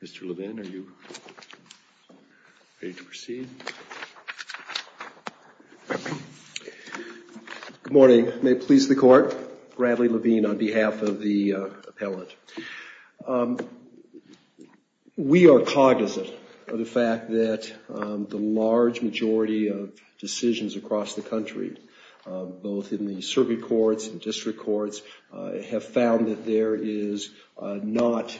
Mr. Levine, are you ready to proceed? Good morning. May it please the Court, Bradley Levine on behalf of the appellant. We are cognizant of the fact that the large majority of decisions across the country, both in the circuit courts and district courts, have found that there is not,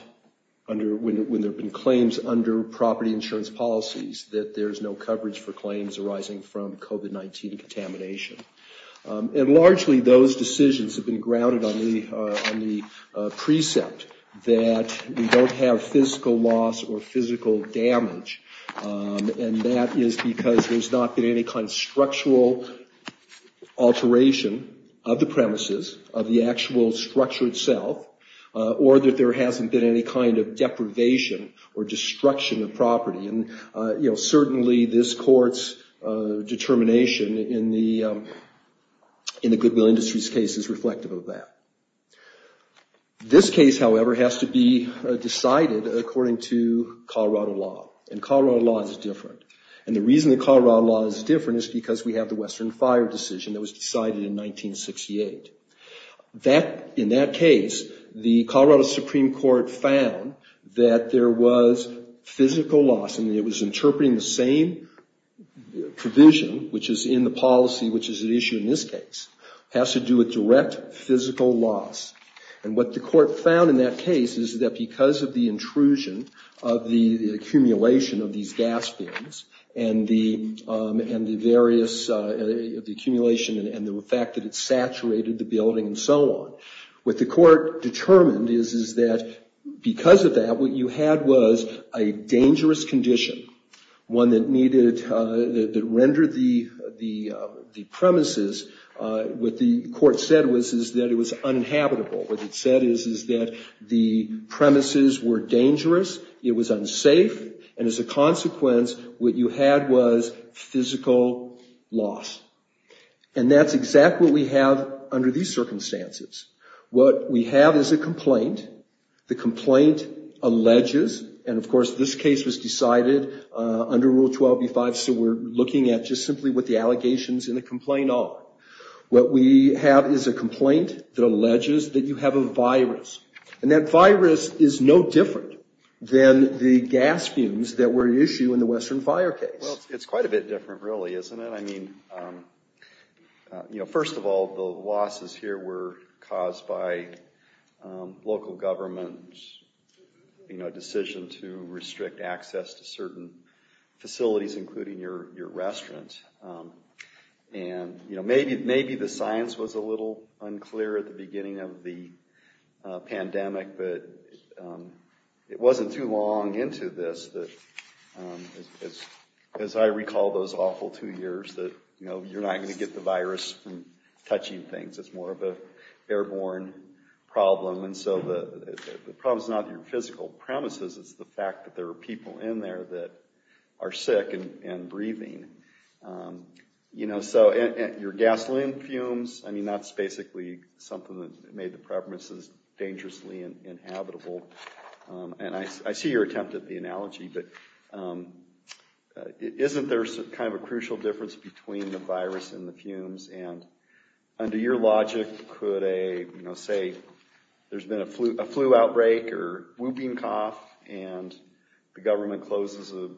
when there have been claims under property insurance policies, that there is no coverage for claims arising from COVID-19 contamination. And largely, those decisions have been grounded on the precept that we don't have physical loss or physical damage. And that is because there's not been any kind of structural alteration of the premises, of the actual structure itself, or that there hasn't been any kind of deprivation or destruction of property. And certainly, this Court's determination in the Goodwill Industries case is reflective of that. This case, however, has to be decided according to Colorado law. And Colorado law is different. And the reason the Colorado law is different is because we have the Western Fire decision that was decided in 1968. In that case, the Colorado Supreme Court found that there was physical loss. And it was interpreting the same provision, which is in the policy, which is at issue in this case, has to do with direct physical loss. And what the court found in that case is that because of the intrusion of the accumulation of these gas bins and the various accumulation and the fact that it saturated the building and so on, what the court determined is that because of that, what you had was a dangerous condition, one that rendered the premises, what the court said was that it was uninhabitable. What it said is, is that the premises were dangerous, it was unsafe, and as a consequence, what you had was physical loss. And that's exactly what we have under these circumstances. What we have is a complaint. The complaint alleges, and of course, this case was decided under Rule 12b-5, so we're looking at just simply what the allegations in the complaint are. What we have is a complaint that alleges that you have a virus. And that virus is no different than the gas fumes that were at issue in the Western Fire case. Well, it's quite a bit different, really, isn't it? I mean, first of all, the losses here were caused by local government's decision to restrict access to certain facilities, including your restaurant. And, you know, maybe the science was a little unclear at the beginning of the pandemic, but it wasn't too long into this that, as I recall those awful two years, that, you know, you're not going to get the virus from touching things. It's more of an airborne problem. And so the problem is not your physical premises. It's the fact that there are people in there that are sick and breathing. You know, so your gasoline fumes, I mean, that's basically something that made the premises dangerously inhabitable. And I see your attempt at the analogy, but isn't there kind of a crucial difference between the virus and the fumes? And under your logic, could a, you know, say there's been a flu outbreak or whooping cough, and the government closes a,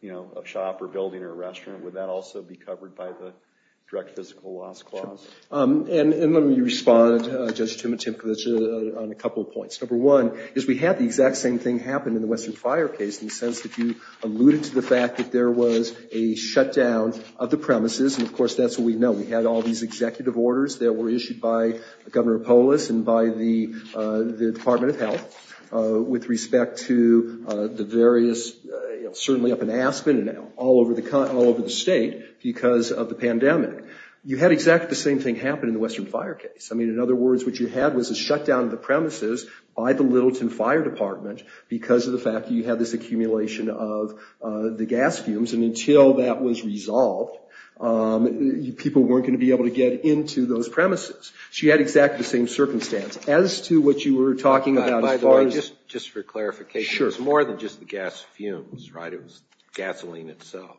you know, a shop or building or a restaurant, would that also be covered by the direct physical loss clause? And let me respond, Judge Timothy, on a couple of points. Number one is we had the exact same thing happen in the Western Fire case in the sense that you alluded to the fact that there was a shutdown of the premises. And, of course, that's what we know. We had all these executive orders that were issued by Governor Polis and by the Department of Health with respect to the various, you know, certainly up in Aspen and all over the state because of the pandemic. You had exactly the same thing happen in the Western Fire case. I mean, in other words, what you had was a shutdown of the premises by the Littleton Fire Department because of the fact that you had this accumulation of the gas fumes. And until that was resolved, people weren't going to be able to get into those premises. So you had exactly the same circumstance. As to what you were talking about as far as— By the way, just for clarification. Sure. It's more than just the gas fumes, right? It was gasoline itself.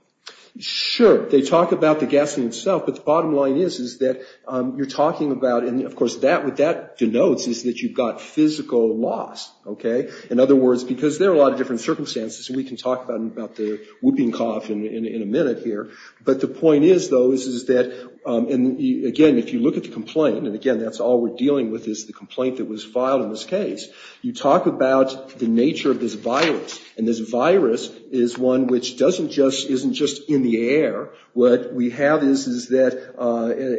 Sure. They talk about the gasoline itself, but the bottom line is that you're talking about—and, of course, what that denotes is that you've got physical loss, okay? In other words, because there are a lot of different circumstances, and we can talk about the whooping cough in a minute here. But the point is, though, is that—and, again, if you look at the complaint, and, again, that's all we're dealing with is the complaint that was filed in this case. You talk about the nature of this virus, and this virus is one which doesn't just—isn't just in the air. What we have is that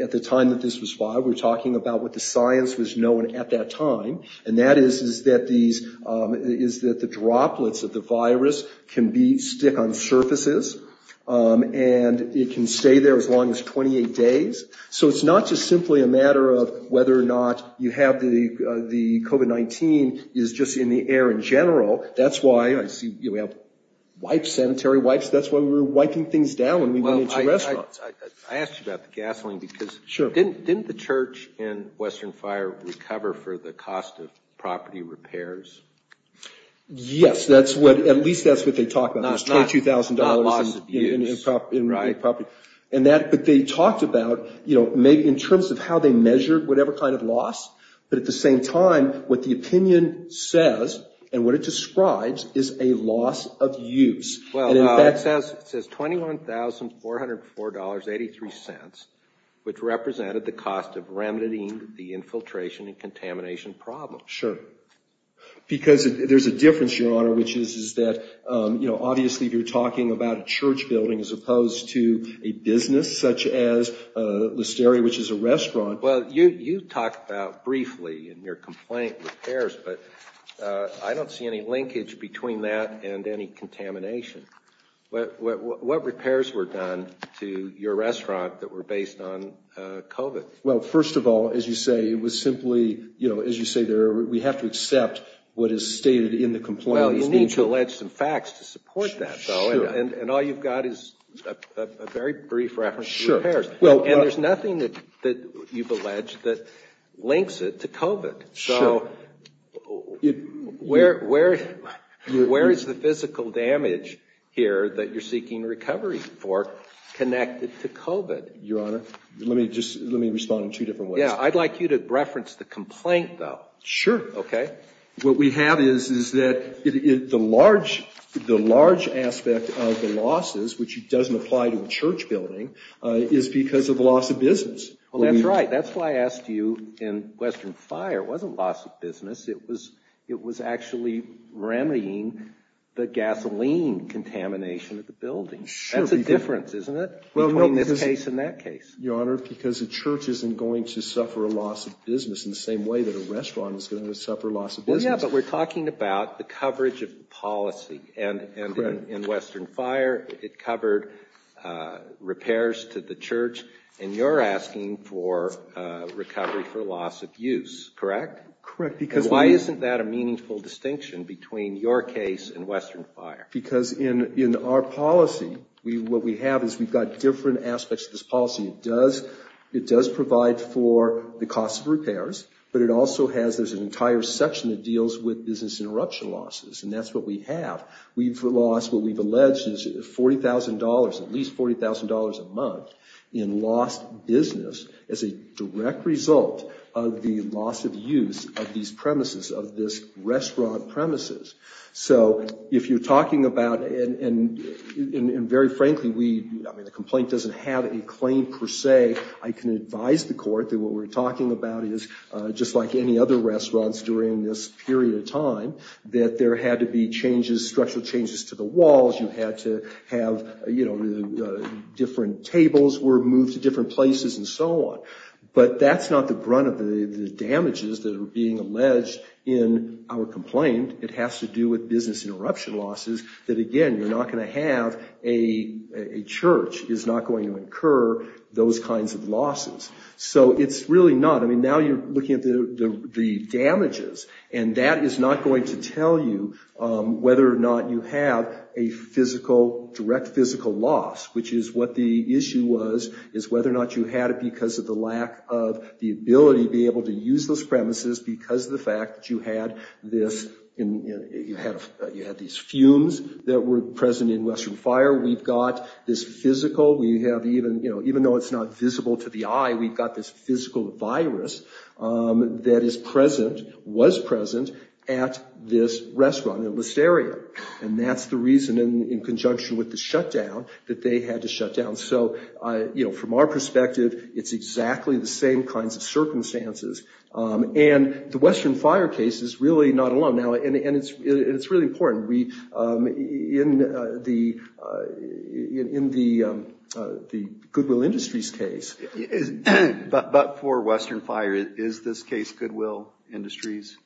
at the time that this was filed, we were talking about what the science was known at that time. And that is that these—is that the droplets of the virus can be—stick on surfaces, and it can stay there as long as 28 days. So it's not just simply a matter of whether or not you have the COVID-19 is just in the air in general. That's why I see, you know, we have wipes, sanitary wipes. That's why we were wiping things down when we went into restaurants. Well, I asked you about the gasoline because— Sure. Didn't the church in Western Fire recover for the cost of property repairs? Yes, that's what—at least that's what they talk about, is $22,000 in property. Not loss of use, right. And that—but they talked about, you know, maybe in terms of how they measured whatever kind of loss. But at the same time, what the opinion says and what it describes is a loss of use. Well, it says $21,404.83, which represented the cost of remedying the infiltration and contamination problem. Sure. Because there's a difference, Your Honor, which is that, you know, such as Listeria, which is a restaurant. Well, you talked about briefly in your complaint repairs, but I don't see any linkage between that and any contamination. What repairs were done to your restaurant that were based on COVID? Well, first of all, as you say, it was simply, you know, as you say, we have to accept what is stated in the complaint. Well, you need to allege some facts to support that, though. Sure. And all you've got is a very brief reference to repairs. Sure. And there's nothing that you've alleged that links it to COVID. Sure. So where is the physical damage here that you're seeking recovery for connected to COVID? Your Honor, let me just—let me respond in two different ways. Yeah, I'd like you to reference the complaint, though. Sure. Okay? What we have is that the large aspect of the losses, which doesn't apply to a church building, is because of loss of business. Well, that's right. That's why I asked you in Western Fire. It wasn't loss of business. It was actually remedying the gasoline contamination at the building. That's a difference, isn't it, between this case and that case? Your Honor, because a church isn't going to suffer a loss of business in the same way that a restaurant is going to suffer loss of business. Yeah, but we're talking about the coverage of policy. Correct. And in Western Fire, it covered repairs to the church, and you're asking for recovery for loss of use, correct? Correct, because— And why isn't that a meaningful distinction between your case and Western Fire? Because in our policy, what we have is we've got different aspects of this policy. It does provide for the cost of repairs, but it also has—there's an entire section that deals with business interruption losses, and that's what we have. We've lost what we've alleged is $40,000, at least $40,000 a month, in lost business as a direct result of the loss of use of these premises, of this restaurant premises. So if you're talking about—and very frankly, we—I mean, the complaint doesn't have a claim per se. I can advise the court that what we're talking about is, just like any other restaurants during this period of time, that there had to be changes, structural changes to the walls. You had to have, you know, different tables were moved to different places and so on. But that's not the brunt of the damages that are being alleged in our complaint. It has to do with business interruption losses that, again, you're not going to have—a church is not going to incur those kinds of losses. So it's really not—I mean, now you're looking at the damages, and that is not going to tell you whether or not you have a direct physical loss, which is what the issue was, is whether or not you had it because of the lack of the ability to be able to use those premises, because of the fact that you had this—you had these fumes that were present in Western Fire. We've got this physical—even though it's not visible to the eye, we've got this physical virus that is present, was present, at this restaurant in Listeria. And that's the reason, in conjunction with the shutdown, that they had to shut down. So, you know, from our perspective, it's exactly the same kinds of circumstances. And the Western Fire case is really not alone. And it's really important. In the Goodwill Industries case— But for Western Fire, is this case Goodwill Industries?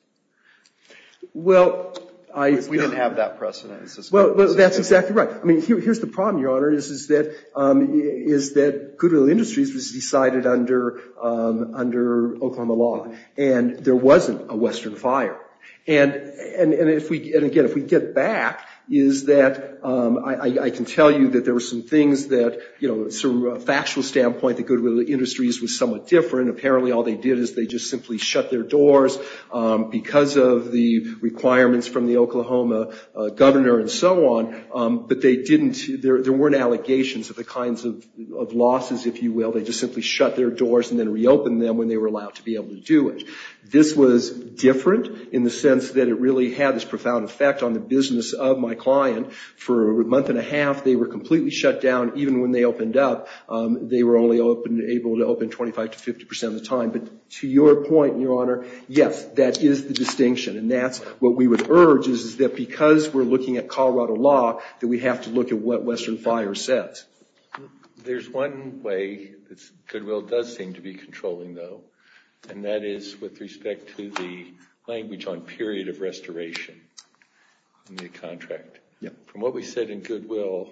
Well, I— We didn't have that precedent. Well, that's exactly right. I mean, here's the problem, Your Honor, is that Goodwill Industries was decided under Oklahoma law, and there wasn't a Western Fire. And if we—and again, if we get back, is that I can tell you that there were some things that, you know, from a factual standpoint, the Goodwill Industries was somewhat different. Apparently, all they did is they just simply shut their doors because of the requirements from the Oklahoma governor and so on. But they didn't—there weren't allegations of the kinds of losses, if you will. They just simply shut their doors and then reopened them when they were allowed to be able to do it. This was different in the sense that it really had this profound effect on the business of my client. For a month and a half, they were completely shut down. Even when they opened up, they were only able to open 25 to 50 percent of the time. But to your point, Your Honor, yes, that is the distinction. And that's what we would urge, is that because we're looking at Colorado law, that we have to look at what Western Fire says. There's one way that Goodwill does seem to be controlling, though, and that is with respect to the language on period of restoration in the contract. From what we said in Goodwill,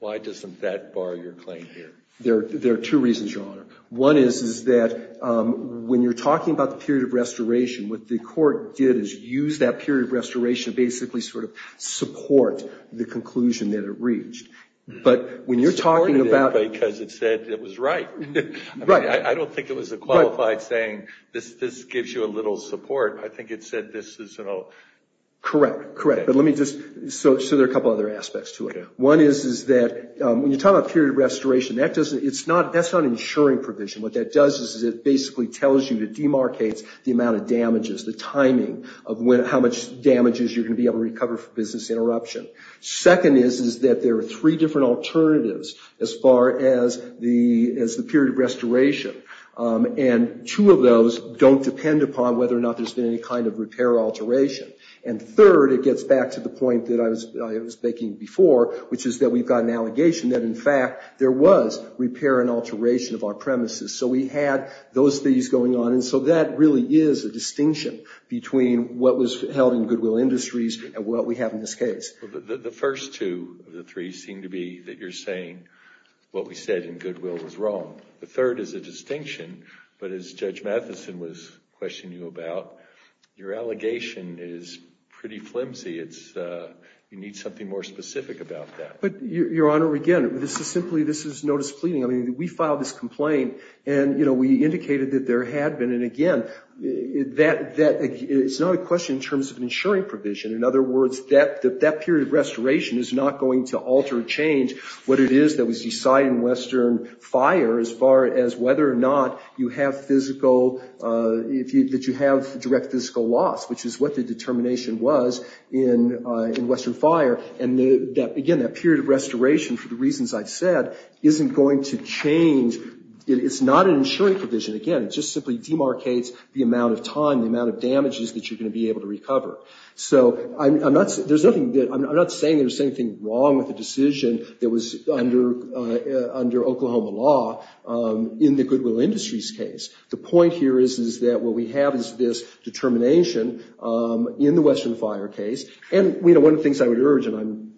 why doesn't that bar your claim here? There are two reasons, Your Honor. One is that when you're talking about the period of restoration, what the court did is use that period of restoration to basically sort of support the conclusion that it reached. But when you're talking about— It supported it because it said it was right. Right. I don't think it was a qualified saying, this gives you a little support. I think it said this is an— Correct, correct. But let me just—so there are a couple other aspects to it. One is that when you're talking about period of restoration, that's not an insuring provision. What that does is it basically tells you to demarcate the amount of damages, the timing of how much damages you're going to be able to recover for business interruption. Second is that there are three different alternatives as far as the period of restoration. And two of those don't depend upon whether or not there's been any kind of repair or alteration. And third, it gets back to the point that I was making before, which is that we've got an allegation that, in fact, there was repair and alteration of our premises. So we had those things going on. And so that really is a distinction between what was held in Goodwill Industries and what we have in this case. The first two of the three seem to be that you're saying what we said in Goodwill was wrong. The third is a distinction. But as Judge Matheson was questioning you about, your allegation is pretty flimsy. It's—you need something more specific about that. But, Your Honor, again, this is simply—this is notice pleading. I mean, we filed this complaint and, you know, we indicated that there had been. And, again, that—it's not a question in terms of an insuring provision. In other words, that period of restoration is not going to alter or change what it is that was decided in Western Fire as far as whether or not you have physical—that you have direct physical loss, which is what the determination was in Western Fire. And, again, that period of restoration, for the reasons I've said, isn't going to change—it's not an insuring provision. Again, it just simply demarcates the amount of time, the amount of damages that you're going to be able to recover. So I'm not—there's nothing—I'm not saying there's anything wrong with the decision that was under Oklahoma law in the Goodwill Industries case. The point here is that what we have is this determination in the Western Fire case. And, you know, one of the things I would urge—and I'm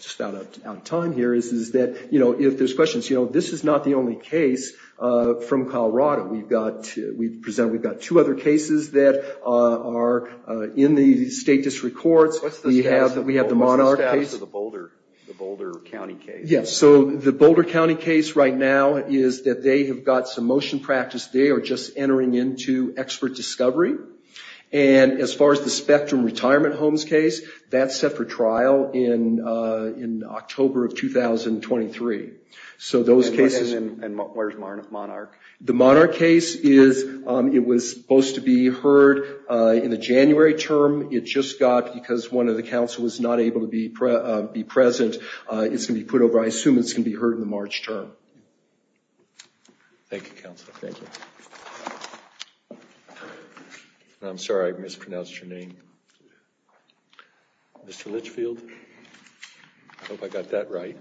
just out of time here—is that, you know, if there's questions, you know, this is not the only case from Colorado. We've got—we present—we've got two other cases that are in the state district courts. We have the Monarch case. What's the status of the Boulder County case? Yeah, so the Boulder County case right now is that they have got some motion practice. They are just entering into expert discovery. And as far as the Spectrum Retirement Homes case, that's set for trial in October of 2023. So those cases— And where's Monarch? The Monarch case is—it was supposed to be heard in the January term. It just got—because one of the counsel was not able to be present, it's going to be put over. I assume it's going to be heard in the March term. Thank you, counsel. Thank you. I'm sorry I mispronounced your name. Mr. Litchfield? I hope I got that right.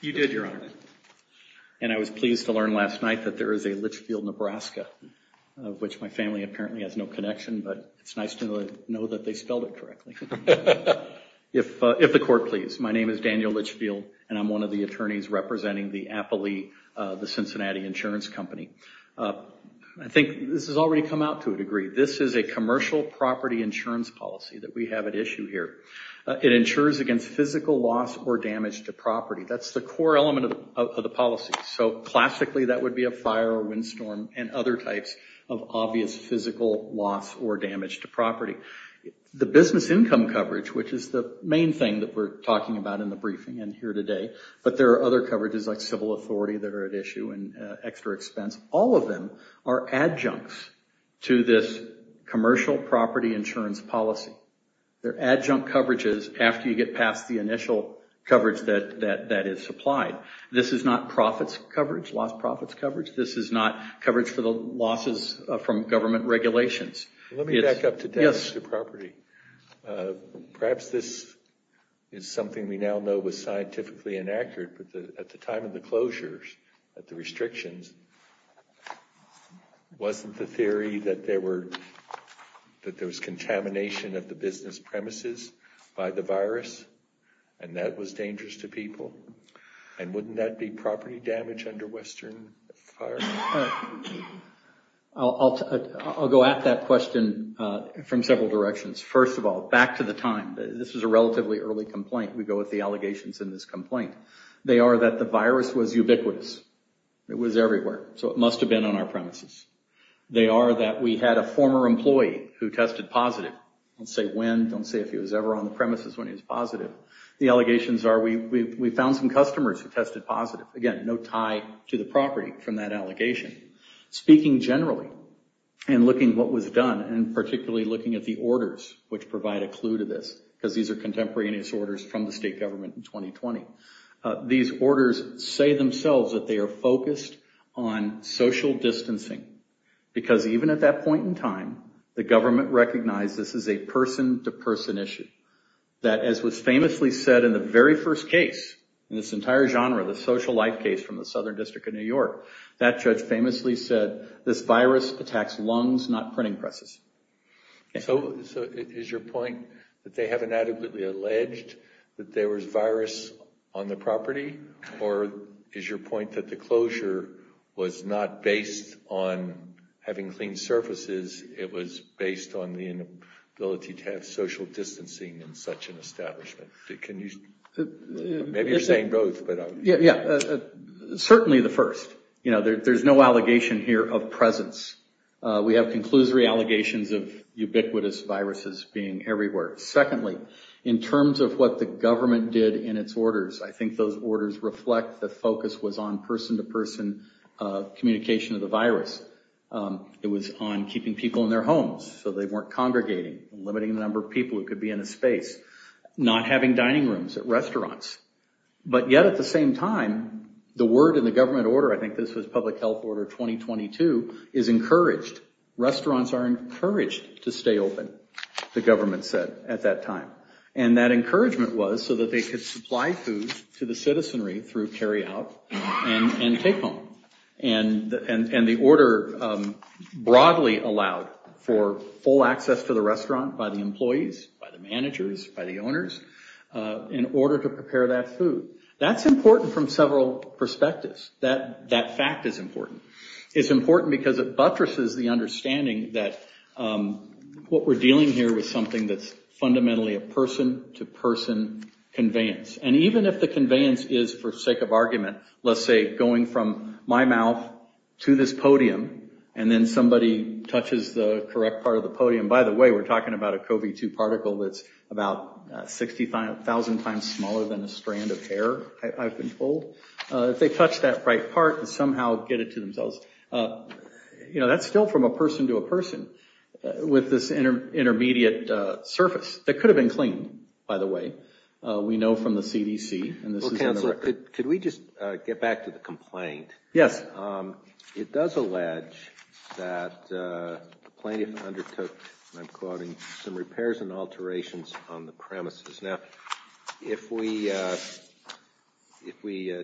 You did, Your Honor. And I was pleased to learn last night that there is a Litchfield, Nebraska, of which my family apparently has no connection, but it's nice to know that they spelled it correctly. If the court please, my name is Daniel Litchfield, and I'm one of the attorneys representing the Appley, the Cincinnati insurance company. I think this has already come out to a degree. This is a commercial property insurance policy that we have at issue here. It insures against physical loss or damage to property. That's the core element of the policy. So classically that would be a fire or windstorm and other types of obvious physical loss or damage to property. The business income coverage, which is the main thing that we're talking about in the briefing and here today, but there are other coverages like civil authority that are at issue and extra expense. All of them are adjuncts to this commercial property insurance policy. They're adjunct coverages after you get past the initial coverage that is supplied. This is not profits coverage, lost profits coverage. This is not coverage for the losses from government regulations. Let me back up to that issue of property. Perhaps this is something we now know was scientifically inaccurate, but at the time of the closures, at the restrictions, wasn't the theory that there was contamination of the business premises by the virus and that was dangerous to people? And wouldn't that be property damage under Western fire? I'll go at that question from several directions. First of all, back to the time. This was a relatively early complaint. We go with the allegations in this complaint. They are that the virus was ubiquitous. It was everywhere, so it must have been on our premises. They are that we had a former employee who tested positive. Don't say when. Don't say if he was ever on the premises when he was positive. The allegations are we found some customers who tested positive. Again, no tie to the property from that allegation. Speaking generally and looking at what was done and particularly looking at the orders which provide a clue to this, because these are contemporaneous orders from the state government in 2020, these orders say themselves that they are focused on social distancing because even at that point in time, the government recognized this is a person-to-person issue, that as was famously said in the very first case in this entire genre, the social life case from the Southern District of New York, that judge famously said this virus attacks lungs, not printing presses. So is your point that they have inadequately alleged that there was virus on the property, or is your point that the closure was not based on having clean surfaces, it was based on the inability to have social distancing in such an establishment? Maybe you're saying both. Yeah, certainly the first. There's no allegation here of presence. We have conclusory allegations of ubiquitous viruses being everywhere. Secondly, in terms of what the government did in its orders, I think those orders reflect the focus was on person-to-person communication of the virus. It was on keeping people in their homes so they weren't congregating, limiting the number of people who could be in a space, not having dining rooms at restaurants. But yet at the same time, the word in the government order, I think this was Public Health Order 2022, is encouraged. Restaurants are encouraged to stay open, the government said at that time. And that encouragement was so that they could supply food to the citizenry through carry-out and take-home. And the order broadly allowed for full access to the restaurant by the employees, by the managers, by the owners, in order to prepare that food. That's important from several perspectives. That fact is important. It's important because it buttresses the understanding that what we're dealing here with something that's fundamentally a person-to-person conveyance. And even if the conveyance is, for sake of argument, let's say going from my mouth to this podium, and then somebody touches the correct part of the podium. By the way, we're talking about a CoV-2 particle that's about 60,000 times smaller than a strand of hair, I've been told. If they touch that right part and somehow get it to themselves, that's still from a person to a person with this intermediate surface. That could have been cleaned, by the way. We know from the CDC, and this is on the record. Well, Counselor, could we just get back to the complaint? Yes. It does allege that the plaintiff undertook, and I'm quoting, some repairs and alterations on the premises. Now, if we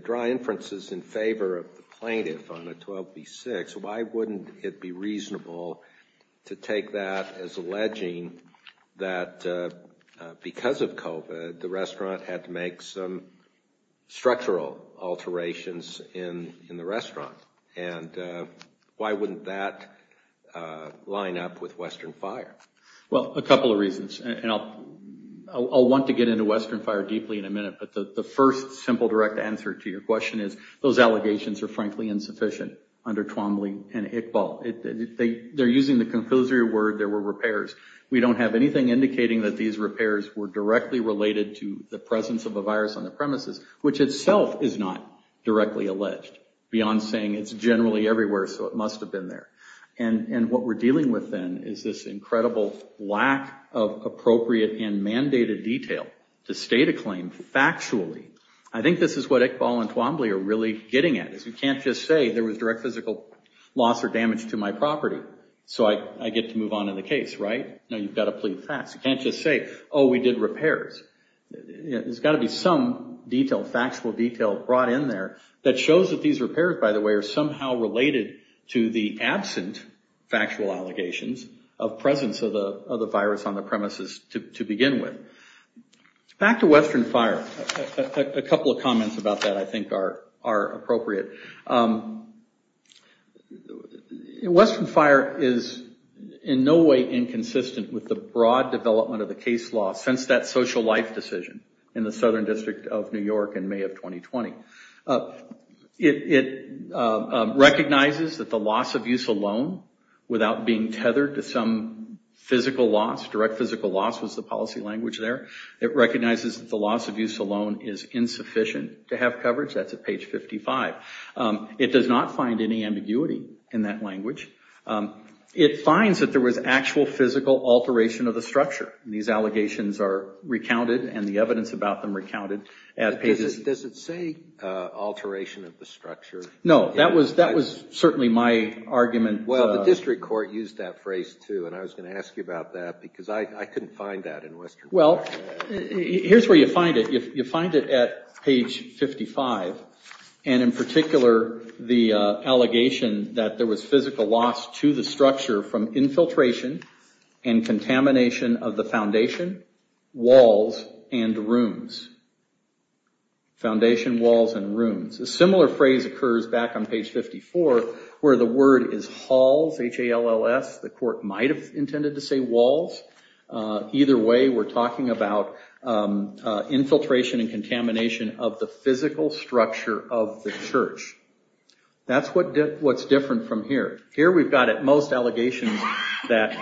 draw inferences in favor of the plaintiff on a 12B6, why wouldn't it be reasonable to take that as alleging that because of COVID, the restaurant had to make some structural alterations in the restaurant? And why wouldn't that line up with Western Fire? Well, a couple of reasons. I'll want to get into Western Fire deeply in a minute, but the first simple direct answer to your question is those allegations are, frankly, insufficient under Twombly and Iqbal. They're using the compulsory word, there were repairs. We don't have anything indicating that these repairs were directly related to the presence of a virus on the premises, which itself is not directly alleged, beyond saying it's generally everywhere, so it must have been there. And what we're dealing with then is this incredible lack of appropriate and mandated detail to state a claim factually. I think this is what Iqbal and Twombly are really getting at, is you can't just say there was direct physical loss or damage to my property, so I get to move on in the case, right? No, you've got to plead facts. You can't just say, oh, we did repairs. There's got to be some detail, factual detail, brought in there that shows that these repairs, by the way, are somehow related to the absent factual allegations of presence of the virus on the premises to begin with. Back to Western Fire. A couple of comments about that I think are appropriate. Western Fire is in no way inconsistent with the broad development of the case law since that social life decision in the Southern District of New York in May of 2020. It recognizes that the loss of use alone, without being tethered to some physical loss, direct physical loss was the policy language there. It recognizes that the loss of use alone is insufficient to have coverage. That's at page 55. It does not find any ambiguity in that language. It finds that there was actual physical alteration of the structure. These allegations are recounted and the evidence about them recounted at pages Does it say alteration of the structure? No. That was certainly my argument. Well, the district court used that phrase, too, and I was going to ask you about that because I couldn't find that in Western Fire. Well, here's where you find it. You find it at page 55, and in particular, the allegation that there was physical loss to the structure from infiltration and contamination of the foundation, walls, and rooms. Foundation, walls, and rooms. A similar phrase occurs back on page 54 where the word is halls, H-A-L-L-S. The court might have intended to say walls. Either way, we're talking about infiltration and contamination of the physical structure of the church. That's what's different from here. Here we've got at most allegations that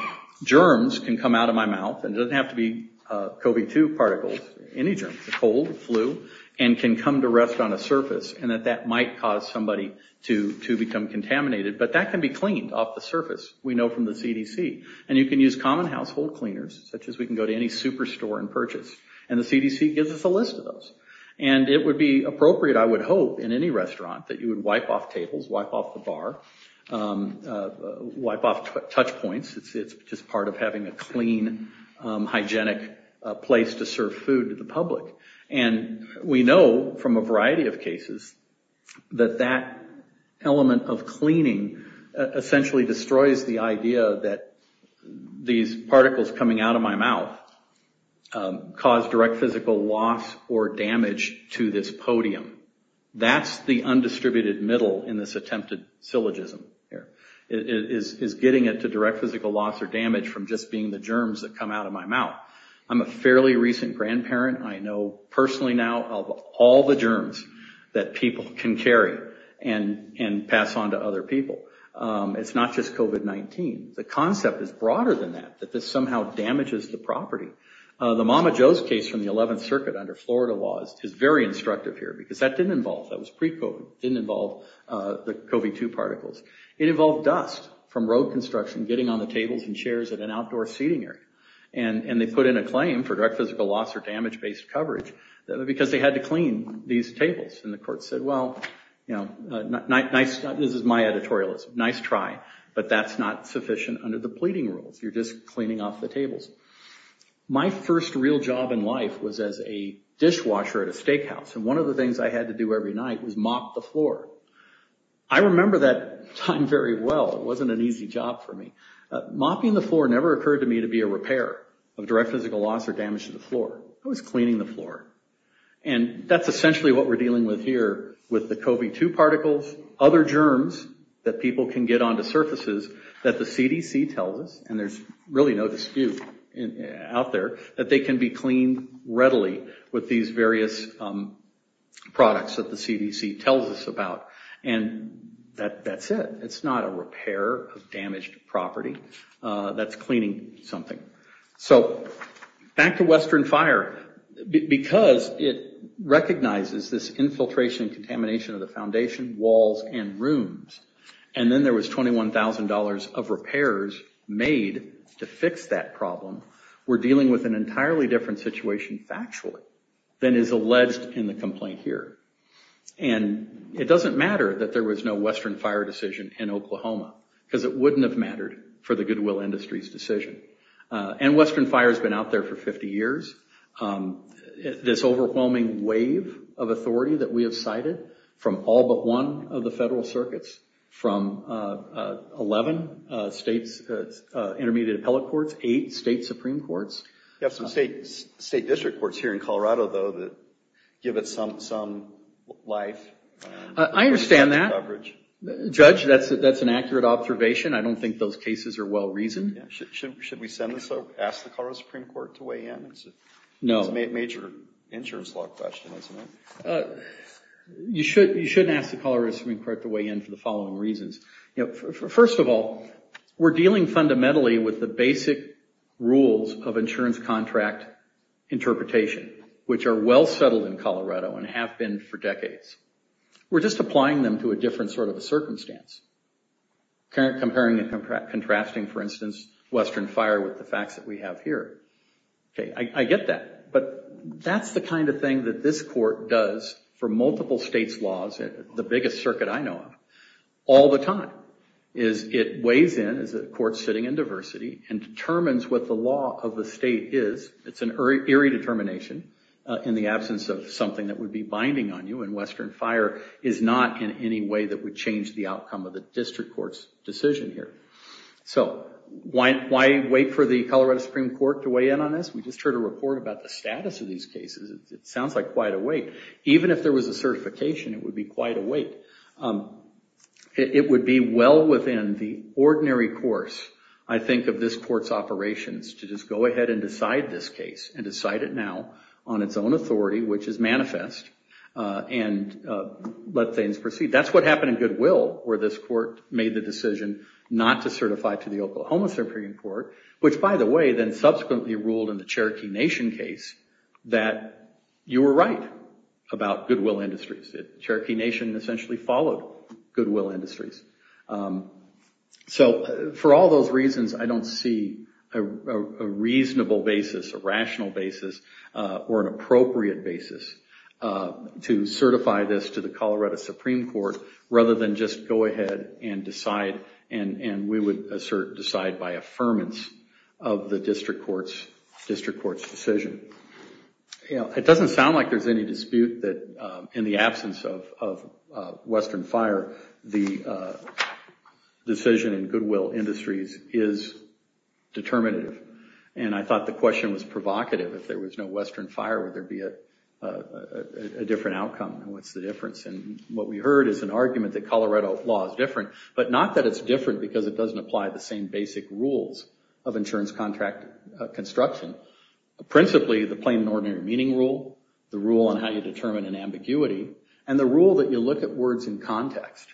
germs can come out of my mouth, and it doesn't have to be COVID-2 particles, any germs, cold, flu, and can come to rest on a surface, and that that might cause somebody to become contaminated. But that can be cleaned off the surface. We know from the CDC. And you can use common household cleaners, such as we can go to any superstore and purchase. And the CDC gives us a list of those. And it would be appropriate, I would hope, in any restaurant that you would wipe off tables, wipe off the bar, wipe off touch points. It's just part of having a clean, hygienic place to serve food to the public. And we know from a variety of cases that that element of cleaning essentially destroys the idea that these particles coming out of my mouth cause direct physical loss or damage to this podium. That's the undistributed middle in this attempted syllogism here, is getting it to direct physical loss or damage from just being the germs that come out of my mouth. I'm a fairly recent grandparent. I know personally now of all the germs that people can carry and pass on to other people. It's not just COVID-19. The concept is broader than that, that this somehow damages the property. The Mama Jo's case from the 11th Circuit under Florida laws is very instructive here because that didn't involve, that was pre-COVID, didn't involve the COVID-2 particles. It involved dust from road construction getting on the tables and chairs at an outdoor seating area. And they put in a claim for direct physical loss or damage-based coverage because they had to clean these tables. And the court said, well, this is my editorialism, nice try, but that's not sufficient under the pleading rules. You're just cleaning off the tables. My first real job in life was as a dishwasher at a steakhouse. And one of the things I had to do every night was mop the floor. I remember that time very well. It wasn't an easy job for me. Mopping the floor never occurred to me to be a repair of direct physical loss or damage to the floor. I was cleaning the floor. And that's essentially what we're dealing with here, with the COVID-2 particles, other germs that people can get onto surfaces that the CDC tells us, and there's really no dispute out there, that they can be cleaned readily with these various products that the CDC tells us about. And that's it. It's not a repair of damaged property. That's cleaning something. So back to Western Fire. Because it recognizes this infiltration and contamination of the foundation, walls, and rooms. And then there was $21,000 of repairs made to fix that problem. We're dealing with an entirely different situation factually than is alleged in the complaint here. And it doesn't matter that there was no Western Fire decision in Oklahoma, because it wouldn't have mattered for the Goodwill Industries decision. And Western Fire has been out there for 50 years. This overwhelming wave of authority that we have cited from all but one of the federal circuits, from 11 states' intermediate appellate courts, eight state supreme courts. We have some state district courts here in Colorado, though, that give it some life. I understand that. Judge, that's an accurate observation. I don't think those cases are well-reasoned. Should we send this up, ask the Colorado Supreme Court to weigh in? No. It's a major insurance law question, isn't it? You shouldn't ask the Colorado Supreme Court to weigh in for the following reasons. First of all, we're dealing fundamentally with the basic rules of insurance contract interpretation, which are well-settled in Colorado and have been for decades. We're just applying them to a different sort of a circumstance, comparing and contrasting, for instance, Western Fire with the facts that we have here. I get that, but that's the kind of thing that this court does for multiple states' laws, the biggest circuit I know of, all the time. It weighs in as a court sitting in diversity and determines what the law of the state is. It's an eerie determination in the absence of something that would be binding on you, and Western Fire is not in any way that would change the outcome of the district court's decision here. Why wait for the Colorado Supreme Court to weigh in on this? We just heard a report about the status of these cases. It sounds like quite a wait. Even if there was a certification, it would be quite a wait. It would be well within the ordinary course, I think, of this court's operations to just go ahead and decide this case and decide it now on its own authority, which is manifest, and let things proceed. That's what happened in Goodwill, where this court made the decision not to certify to the Oklahoma Supreme Court, which, by the way, then subsequently ruled in the Cherokee Nation case that you were right about Goodwill Industries. Cherokee Nation essentially followed Goodwill Industries. For all those reasons, I don't see a reasonable basis, a rational basis, or an appropriate basis to certify this to the Colorado Supreme Court, rather than just go ahead and decide, and we would assert decide by affirmance, of the district court's decision. It doesn't sound like there's any dispute that, in the absence of Western Fire, the decision in Goodwill Industries is determinative. I thought the question was provocative. If there was no Western Fire, would there be a different outcome? What's the difference? What we heard is an argument that Colorado law is different, but not that it's different because it doesn't apply the same basic rules of insurance contract construction. Principally, the plain and ordinary meaning rule, the rule on how you determine an ambiguity, and the rule that you look at words in context.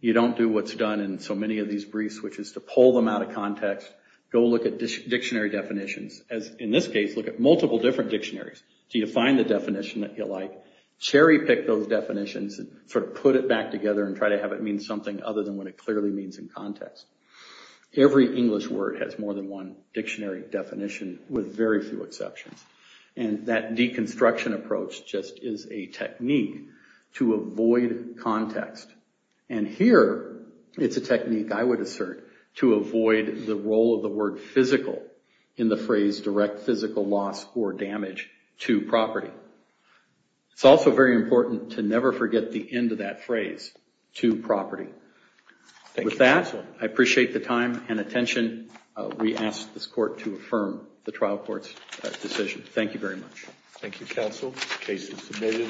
You don't do what's done in so many of these briefs, which is to pull them out of context, go look at dictionary definitions. In this case, look at multiple different dictionaries. Do you find the definition that you like? Cherry pick those definitions, put it back together, and try to have it mean something other than what it clearly means in context. Every English word has more than one dictionary definition, with very few exceptions. That deconstruction approach just is a technique to avoid context. Here, it's a technique I would assert to avoid the role of the word physical in the phrase direct physical loss or damage to property. It's also very important to never forget the end of that phrase, to property. With that, I appreciate the time and attention. We ask this court to affirm the trial court's decision. Thank you very much. Thank you, counsel. Case is submitted.